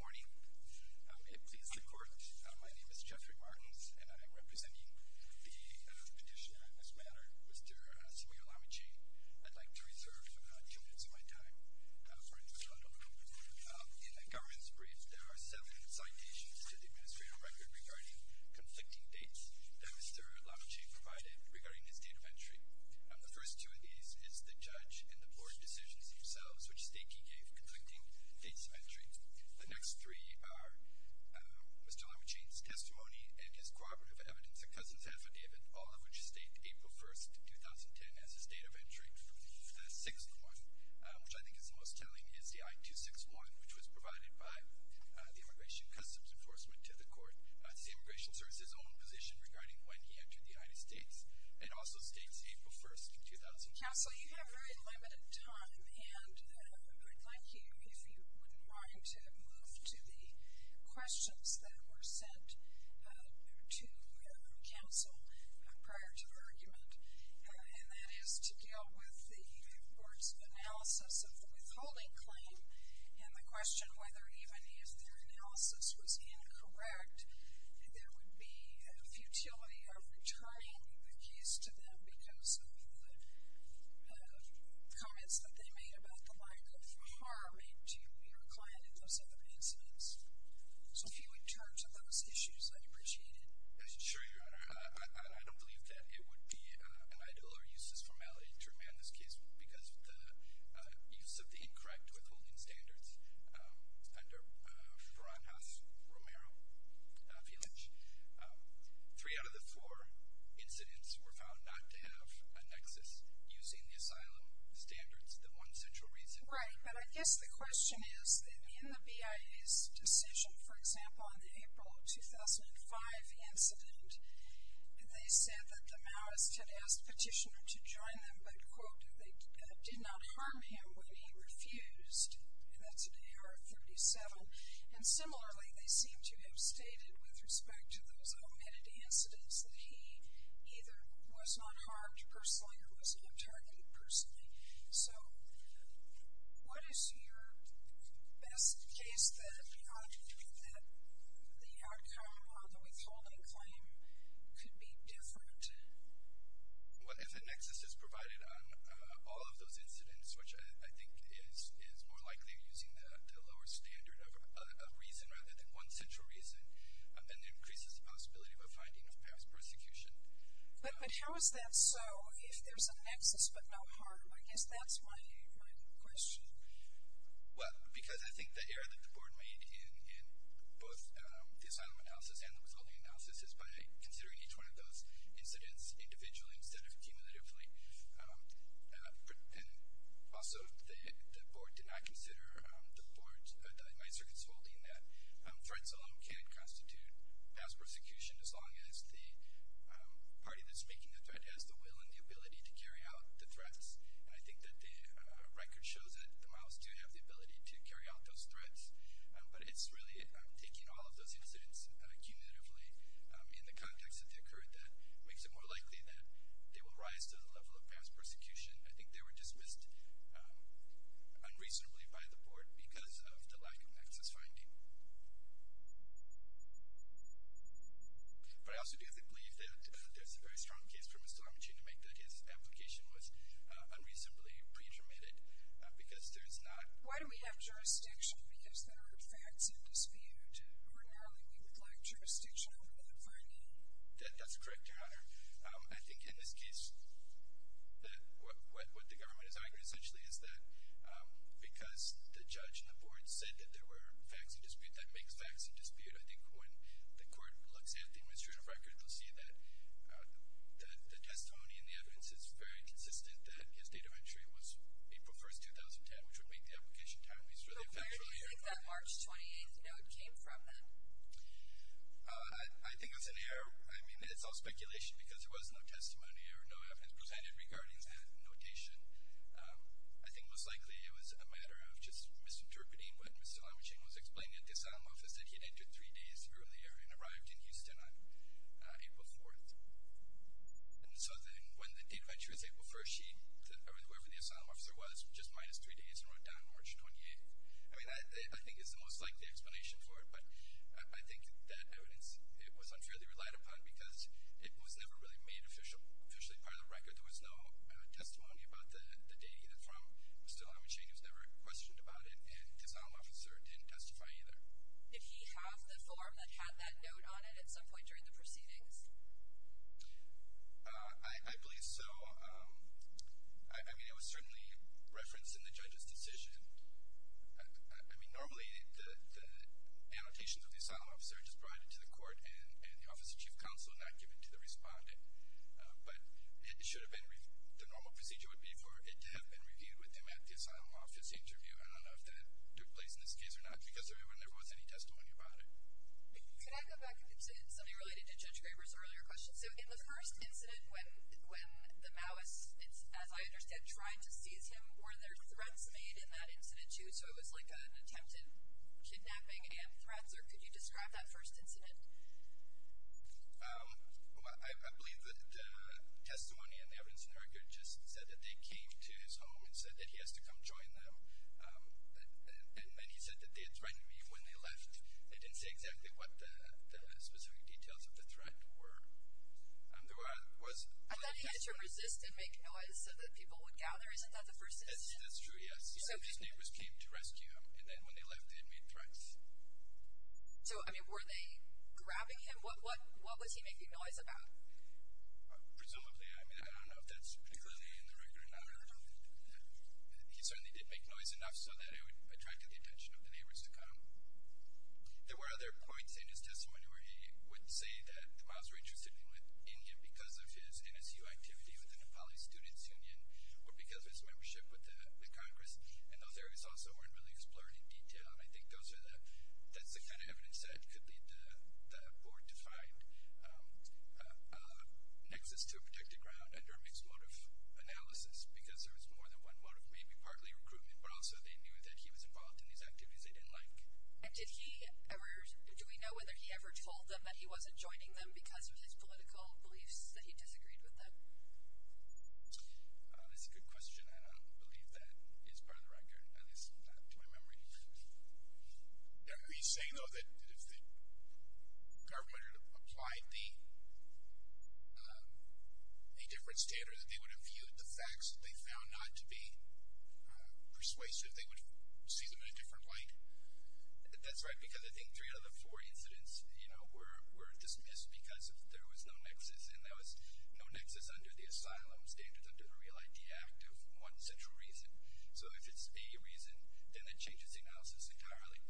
Good morning. It pleases the Court. My name is Jeffrey Martins, and I am representing the petitioner in this manner, Mr. Samuel Lamichhane. I'd like to reserve two minutes of my time for introspection. In the government's brief, there are seven citations to the Administrative Record regarding conflicting dates that Mr. Lamichhane provided regarding his date of entry. The first two of these is the judge and the Board's decisions themselves, which state he gave conflicting dates of entry. The next three are Mr. Lamichhane's testimony and his cooperative evidence, a Customs Affidavit, all of which state April 1, 2010, as his date of entry. The sixth one, which I think is the most telling, is the I-261, which was provided by the Immigration Customs Enforcement to the Court. It's the Immigration Service's own position regarding when he entered the United States. It also states April 1, 2010. Counsel, you have very limited time, and I'd like you, if you wouldn't mind, to move to the questions that were sent to counsel prior to the argument, and that is to deal with the Court's analysis of the withholding claim and the question whether even if their analysis was incorrect, there would be a futility of returning the case to them because of the comments that they made about the lack of harm to your client and those other incidents. So if you would turn to those issues, I'd appreciate it. Sure, Your Honor. I don't believe that it would be an ideal or useless formality to remand this case because of the use of the incorrect withholding standards under Ferran Haas-Romero v. Lynch. Three out of the four incidents were found not to have a nexus using the asylum standards, the one central reason. Right, but I guess the question is that in the BIA's decision, for example, on the April 2005 incident, they said that the Maoists had asked Petitioner to join them, but, quote, they did not harm him when he refused, and that's in AR 37. And similarly, they seem to have stated with respect to those omitted incidents that he either was not harmed personally or was not targeted personally. So what is your best case that the outcome of the withholding claim could be different? Well, if the nexus is provided on all of those incidents, which I think is more likely using the lower standard of reason rather than one central reason, then there increases the possibility of a finding of past persecution. But how is that so if there's a nexus but no harm? I guess that's my question. Well, because I think the error that the Board made in both the asylum analysis and the withholding analysis is by considering each one of those incidents individually instead of cumulatively. And also, the Board did not consider the Maoist Circumstantial Dean that threats alone can't constitute past persecution as long as the party that's making the threat has the will and the ability to carry out the threats. And I think that the record shows that the Maoists do have the ability to carry out those threats, but it's really taking all of those incidents cumulatively in the context that they occurred that makes it more likely that they will rise to the level of past persecution. I think they were dismissed unreasonably by the Board because of the lack of nexus finding. But I also do believe that there's a very strong case for Mr. Lamachine to make that his application was unreasonably pre-intermitted because there's not- Why do we have jurisdiction? Because there are facts in dispute. Ordinarily, we would like jurisdiction over the finding. That's correct, Your Honor. I think in this case, what the government is arguing essentially is that because the judge and the Board said that there were facts in dispute, that makes facts in dispute. I think when the court looks at the administrative record, they'll see that the testimony and the evidence is very consistent that his date of entry was April 1st, 2010, which would make the application timepiece really effectually- So where do you think that March 28th note came from then? I think that's an error. I mean, it's all speculation because there was no testimony or no evidence presented regarding that notation. I think most likely it was a matter of just misinterpreting what Mr. Lamachine was explaining at the Asylum Office, that he entered three days earlier and arrived in Houston on April 4th. And so then when the date of entry was April 1st, whoever the Asylum Officer was just minus three days and wrote down March 28th. I mean, I think it's the most likely explanation for it, but I think that evidence was unfairly relied upon because it was never really made officially part of the record. There was no testimony about the date either from Mr. Lamachine, who was never questioned about it, and his Asylum Officer didn't testify either. Did he have the form that had that note on it at some point during the proceedings? I believe so. I mean, it was certainly referenced in the judge's decision. I mean, normally the annotations of the Asylum Officer are just provided to the court and the Office of Chief Counsel are not given to the respondent, but it should have been the normal procedure would be for it to have been reviewed with them at the Asylum Office interview. I don't know if that took place in this case or not because there never was any testimony about it. Can I go back to something related to Judge Graber's earlier question? So in the first incident when the Maoists, as I understand, tried to seize him, were there threats made in that incident too? So it was like an attempt at kidnapping and threats, or could you describe that first incident? I believe that testimony and the evidence in the record just said that they came to his home and said that he has to come join them, and then he said that they had threatened him when they left. They didn't say exactly what the specific details of the threat were. I thought he had to resist and make noise so that people would gather. Isn't that the first incident? That's true, yes. His neighbors came to rescue him, and then when they left they made threats. So, I mean, were they grabbing him? What was he making noise about? Presumably. I mean, I don't know if that's particularly in the record or not. He certainly did make noise enough so that it would attract the attention of the neighbors to come. There were other points in his testimony where he would say that the Maoists were interested in him because of his NSU activity with the Nepali Students Union or because of his membership with the Congress, and those areas also weren't really explored in detail, and I think that's the kind of evidence that could lead the board to find a nexus to a protected ground under a mixed mode of analysis because there was more than one mode of maybe partly recruitment, but also they knew that he was involved in these activities they didn't like. And did he ever, do we know whether he ever told them that he wasn't joining them because of his political beliefs that he disagreed with them? That's a good question, and I don't believe that is part of the record, at least not to my memory. He's saying, though, that if the government had applied a different standard, that they would have viewed the facts that they found not to be persuasive, they would see them in a different light. That's right, because I think three out of the four incidents were dismissed because there was no nexus, and there was no nexus under the asylum standards under the Real Idea Act of one central reason. So if it's a reason, then it changes the analysis entirely.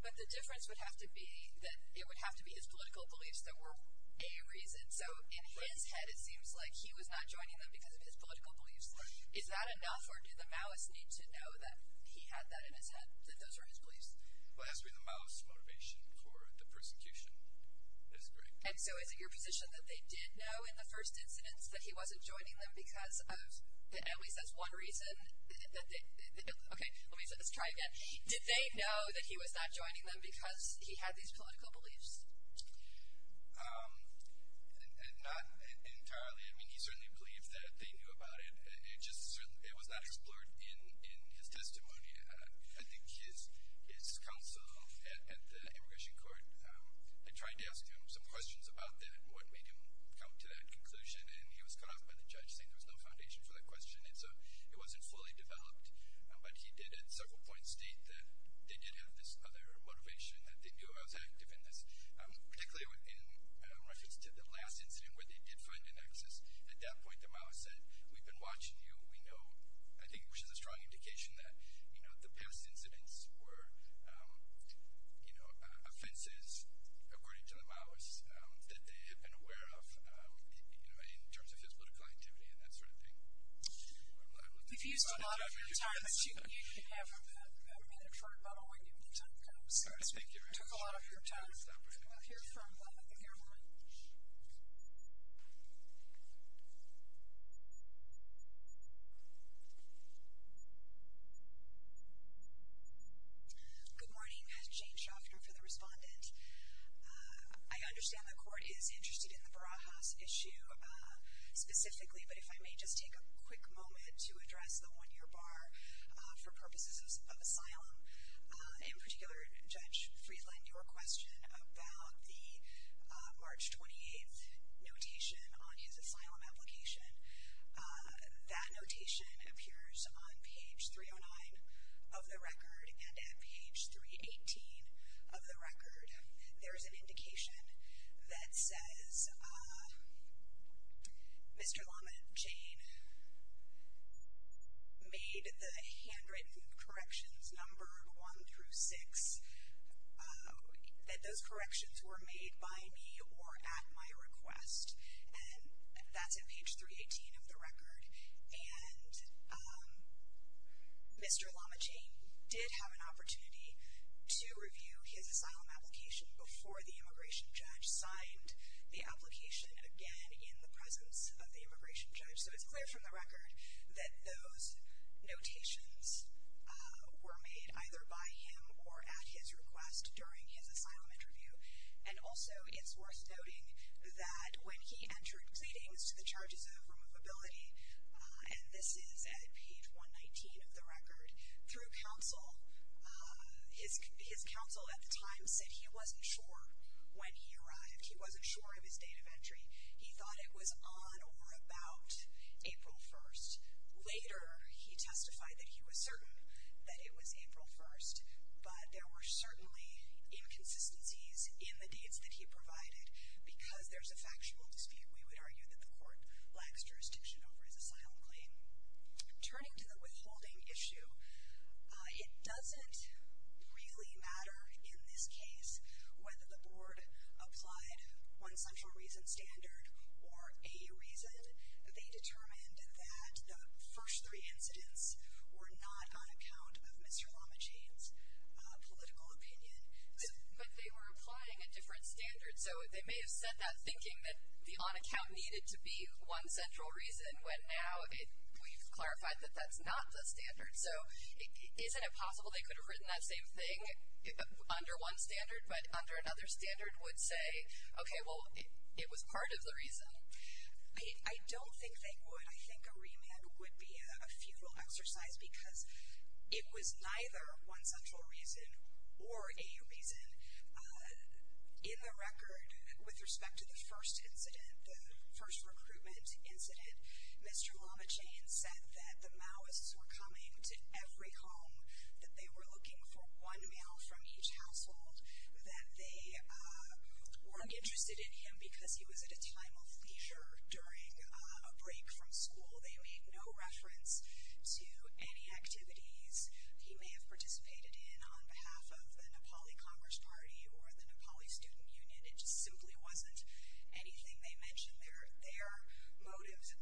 But the difference would have to be that it would have to be his political beliefs that were a reason. So in his head, it seems like he was not joining them because of his political beliefs. Is that enough, or did the Maoists need to know that he had that in his head, that those were his beliefs? Well, it has to be the Maoists' motivation for the persecution. And so is it your position that they did know in the first incidents that he wasn't joining them because of, at least that's one reason that they, okay, let's try again. Did they know that he was not joining them because he had these political beliefs? Not entirely. I mean, he certainly believed that they knew about it. It was not explored in his testimony. I think his counsel at the immigration court had tried to ask him some questions about that and what made him come to that conclusion, and he was cut off by the judge, saying there was no foundation for that question. It wasn't fully developed. But he did at several points state that they did have this other motivation, that they knew he was active in this. Particularly in reference to the last incident where they did find a nexus. At that point, the Maoists said, we've been watching you. We know, I think it was just a strong indication that, you know, the past incidents were, you know, offenses, according to the Maoists, that they had been aware of, you know, in terms of his political activity and that sort of thing. You've used a lot of your time, but you can have a minute for about a week, and then time comes, so to speak. You took a lot of your time, so we're going to hear from the camera. Good morning. Jane Schaffner for the respondent. I understand the court is interested in the Barajas issue specifically, but if I may just take a quick moment to address the one-year bar for purposes of asylum. In particular, Judge Friedland, your question about the March 28th notation on his asylum application, that notation appears on page 309 of the record and at page 318 of the record. There's an indication that says Mr. Lama Jane made the handwritten corrections number one through six, that those corrections were made by me or at my request, and that's at page 318 of the record. And Mr. Lama Jane did have an opportunity to review his asylum application before the immigration judge signed the application, again, in the presence of the immigration judge. So it's clear from the record that those notations were made either by him or at his request during his asylum interview. And also it's worth noting that when he entered pleadings to the charges of removability, and this is at page 119 of the record, through counsel, his counsel at the time said he wasn't sure when he arrived, he wasn't sure of his date of entry. He thought it was on or about April 1st. Later, he testified that he was certain that it was April 1st, but there were certainly inconsistencies in the dates that he provided because there's a factual dispute. We would argue that the court lacks jurisdiction over his asylum claim. Turning to the withholding issue, it doesn't really matter in this case whether the board applied one central reason standard or a reason. They determined that the first three incidents were not on account of Mr. Lama Jane's political opinion. But they were applying a different standard. So they may have said that thinking that the on account needed to be one central reason, when now we've clarified that that's not the standard. So isn't it possible they could have written that same thing under one standard, but under another standard would say, okay, well, it was part of the reason? I don't think they would. I think a remand would be a futile exercise because it was neither one central reason or a reason. In the record, with respect to the first incident, the first recruitment incident, Mr. Lama Jane said that the Maoists were coming to every home, that they were looking for one male from each household, that they weren't interested in him because he was at a time of leisure during a break from school. They made no reference to any activities he may have participated in on behalf of the Nepali Commerce Party or the Nepali Student Union. It just simply wasn't anything they mentioned. Their motives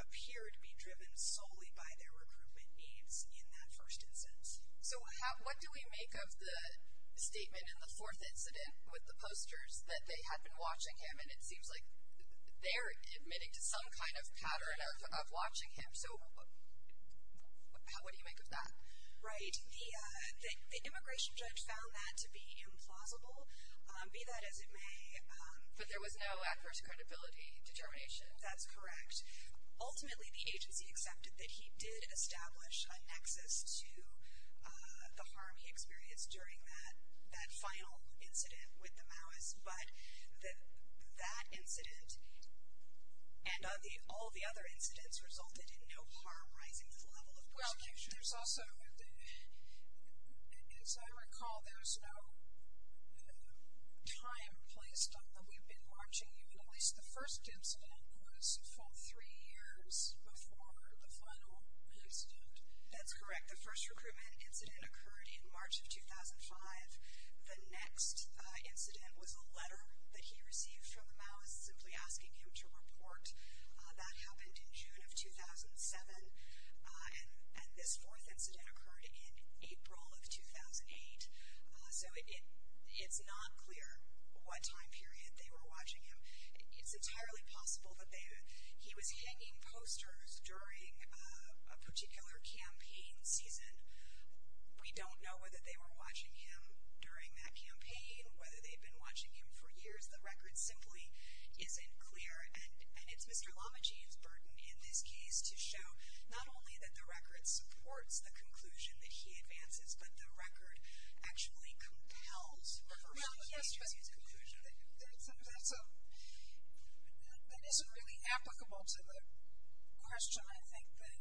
appeared to be driven solely by their recruitment needs in that first instance. So what do we make of the statement in the fourth incident with the posters that they had been watching him, and it seems like they're admitting to some kind of pattern of watching him. So what do you make of that? Right. The immigration judge found that to be implausible, be that as it may. But there was no adverse credibility determination? That's correct. Ultimately, the agency accepted that he did establish an access to the harm he experienced during that final incident with the Maoists, but that incident and all the other incidents resulted in no harm rising to the level of prosecution. Well, there's also, as I recall, there was no time placed on the we've been marching, even at least the first incident was from three years before the final incident. That's correct. The first recruitment incident occurred in March of 2005. The next incident was a letter that he received from the Maoists simply asking him to report. That happened in June of 2007, and this fourth incident occurred in April of 2008. So it's not clear what time period they were watching him. It's entirely possible that he was hanging posters during a particular campaign season. We don't know whether they were watching him during that campaign, whether they'd been watching him for years. The record simply isn't clear, and it's Mr. Lamajean's burden in this case to show not only that the record supports the conclusion that he advances, but the record actually compels the conclusion that he advances. That isn't really applicable to the question, I think, that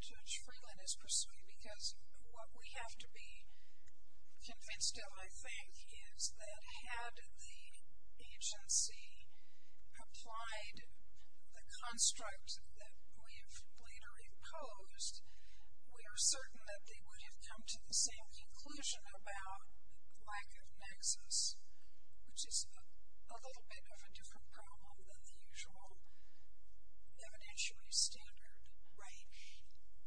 Judge Freeland is pursuing, because what we have to be convinced of, I think, is that had the agency applied the construct that we have later imposed, we are certain that they would have come to the same conclusion about lack of nexus, which is a little bit of a different problem than the usual evidentiary standard. Right.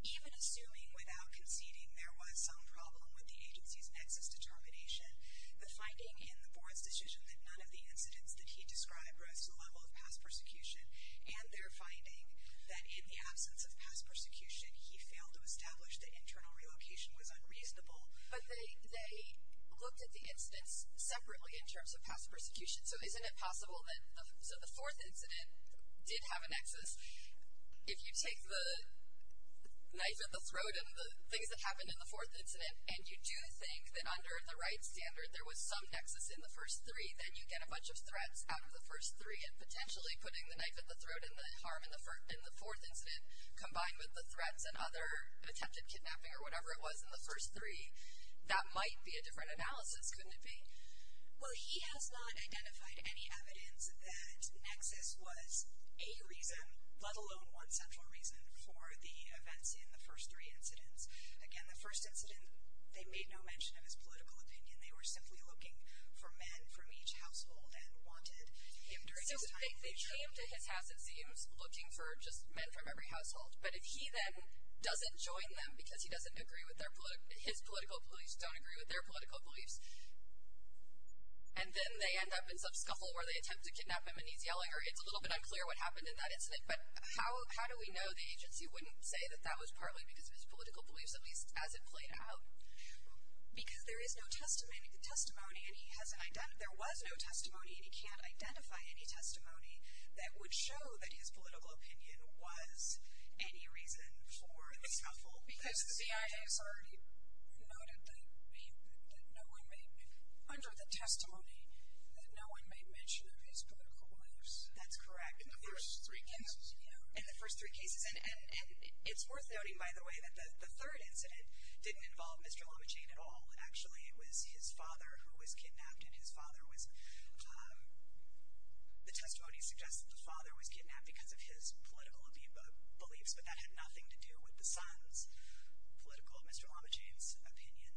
Even assuming without conceding there was some problem with the agency's nexus determination, the finding in the board's decision that none of the incidents that he described were at the level of past persecution, and their finding that in the absence of past persecution, he failed to establish that internal relocation was unreasonable. But they looked at the incidents separately in terms of past persecution. So isn't it possible that the fourth incident did have a nexus? If you take the knife at the throat and the things that happened in the fourth incident, and you do think that under the right standard there was some nexus in the first three, then you get a bunch of threats out of the first three, and potentially putting the knife at the throat and the harm in the fourth incident, combined with the threats and other attempted kidnapping or whatever it was in the first three, that might be a different analysis, couldn't it be? Well, he has not identified any evidence that nexus was a reason, let alone one central reason, for the events in the first three incidents. Again, the first incident, they made no mention of his political opinion. They were simply looking for men from each household and wanted him during his time in jail. So they came to his house, it seems, looking for just men from every household. But if he then doesn't join them because his political beliefs don't agree with their political beliefs, and then they end up in some scuffle where they attempt to kidnap him and he's yelling, or it's a little bit unclear what happened in that incident, but how do we know the agency wouldn't say that that was partly because of his political beliefs, at least as it played out? Because there is no testimony. The testimony, and he hasn't identified, there was no testimony, and he can't identify any testimony that would show that his political opinion was any reason for the scuffle. Because the CIA has already noted that no one may, under the testimony, that no one made mention of his political beliefs. That's correct. In the first three cases. In the first three cases. And it's worth noting, by the way, that the third incident didn't involve Mr. Lamajain at all, actually. It was his father who was kidnapped, and his father was, the testimony suggests that the father was kidnapped because of his political beliefs, but that had nothing to do with the son's political, Mr. Lamajain's opinion.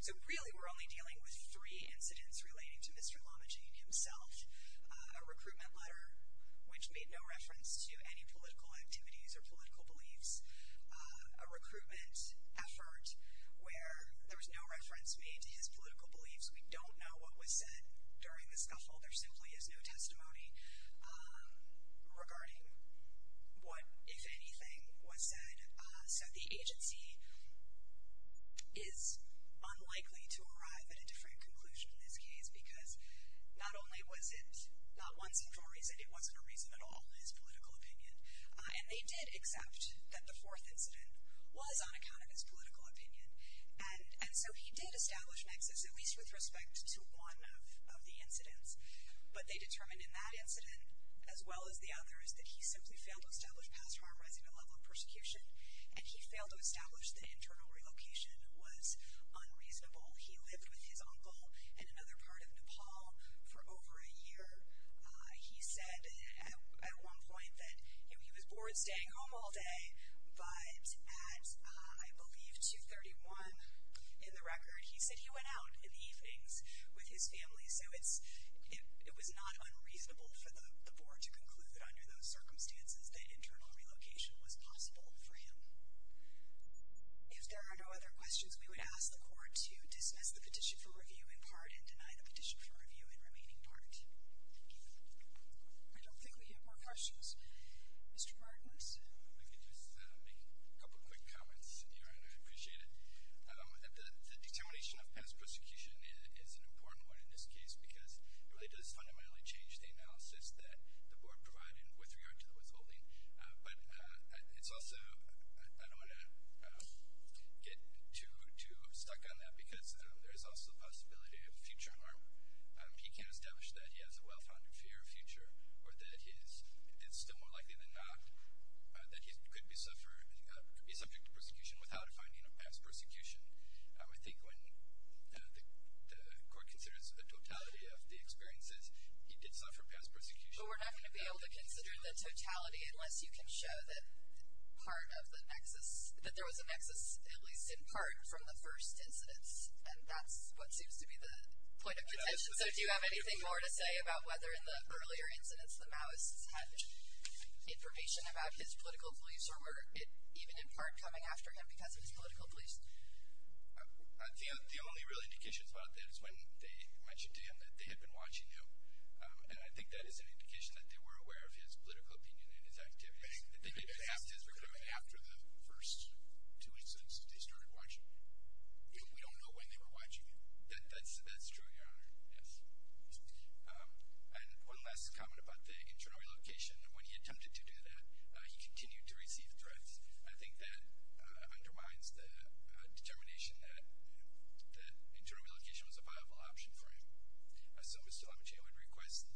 So really we're only dealing with three incidents relating to Mr. Lamajain himself. A recruitment letter, which made no reference to any political activities or political beliefs. A recruitment effort where there was no reference made to his political beliefs. We don't know what was said during the scuffle. There simply is no testimony regarding what, if anything, was said. So the agency is unlikely to arrive at a different conclusion in this case because not only was it not one single reason, it wasn't a reason at all, his political opinion. And they did accept that the fourth incident was on account of his political opinion. And so he did establish nexus, at least with respect to one of the incidents. But they determined in that incident, as well as the others, that he simply failed to establish past harm rising to the level of persecution, and he failed to establish that internal relocation was unreasonable. He lived with his uncle in another part of Nepal for over a year. He said at one point that he was bored staying home all day. But at, I believe, 2.31 in the record, he said he went out in the evenings with his family. So it was not unreasonable for the board to conclude that under those circumstances that internal relocation was possible for him. If there are no other questions, we would ask the court to dismiss the petition for review in part and deny the petition for review in remaining part. Thank you. I don't think we have more questions. Mr. Bartlett. If we could just make a couple quick comments here, and I'd appreciate it. The determination of past persecution is an important one in this case because it really does fundamentally change the analysis that the board provided with regard to the withholding. But it's also, I don't want to get too stuck on that because there is also the possibility of future harm. He can't establish that he has a well-founded fear of future or that it's still more likely than not that he could be subject to persecution without finding past persecution. I think when the court considers the totality of the experiences, he did suffer past persecution. But we're not going to be able to consider the totality unless you can show that part of the nexus, that there was a nexus at least in part from the first incidents. And that's what seems to be the point of the petition. So do you have anything more to say about whether in the earlier incidents the Maoists had information about his political beliefs or were it even in part coming after him because of his political beliefs? The only real indication about that is when they mentioned to him that they had been watching him. And I think that is an indication that they were aware of his political opinion and his activities. I think they passed his record after the first two incidents that they started watching him. We don't know when they were watching him. That's true, Your Honor. Yes. And one last comment about the internal relocation. When he attempted to do that, he continued to receive threats. I think that undermines the determination that internal relocation was a viable option for him. So, Mr. Lamaggio, I would request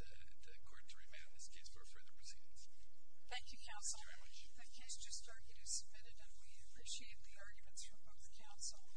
the court to remand this case for further proceedings. Thank you, counsel. Thank you very much. The case just argued is submitted, and we appreciate the arguments from both counsel.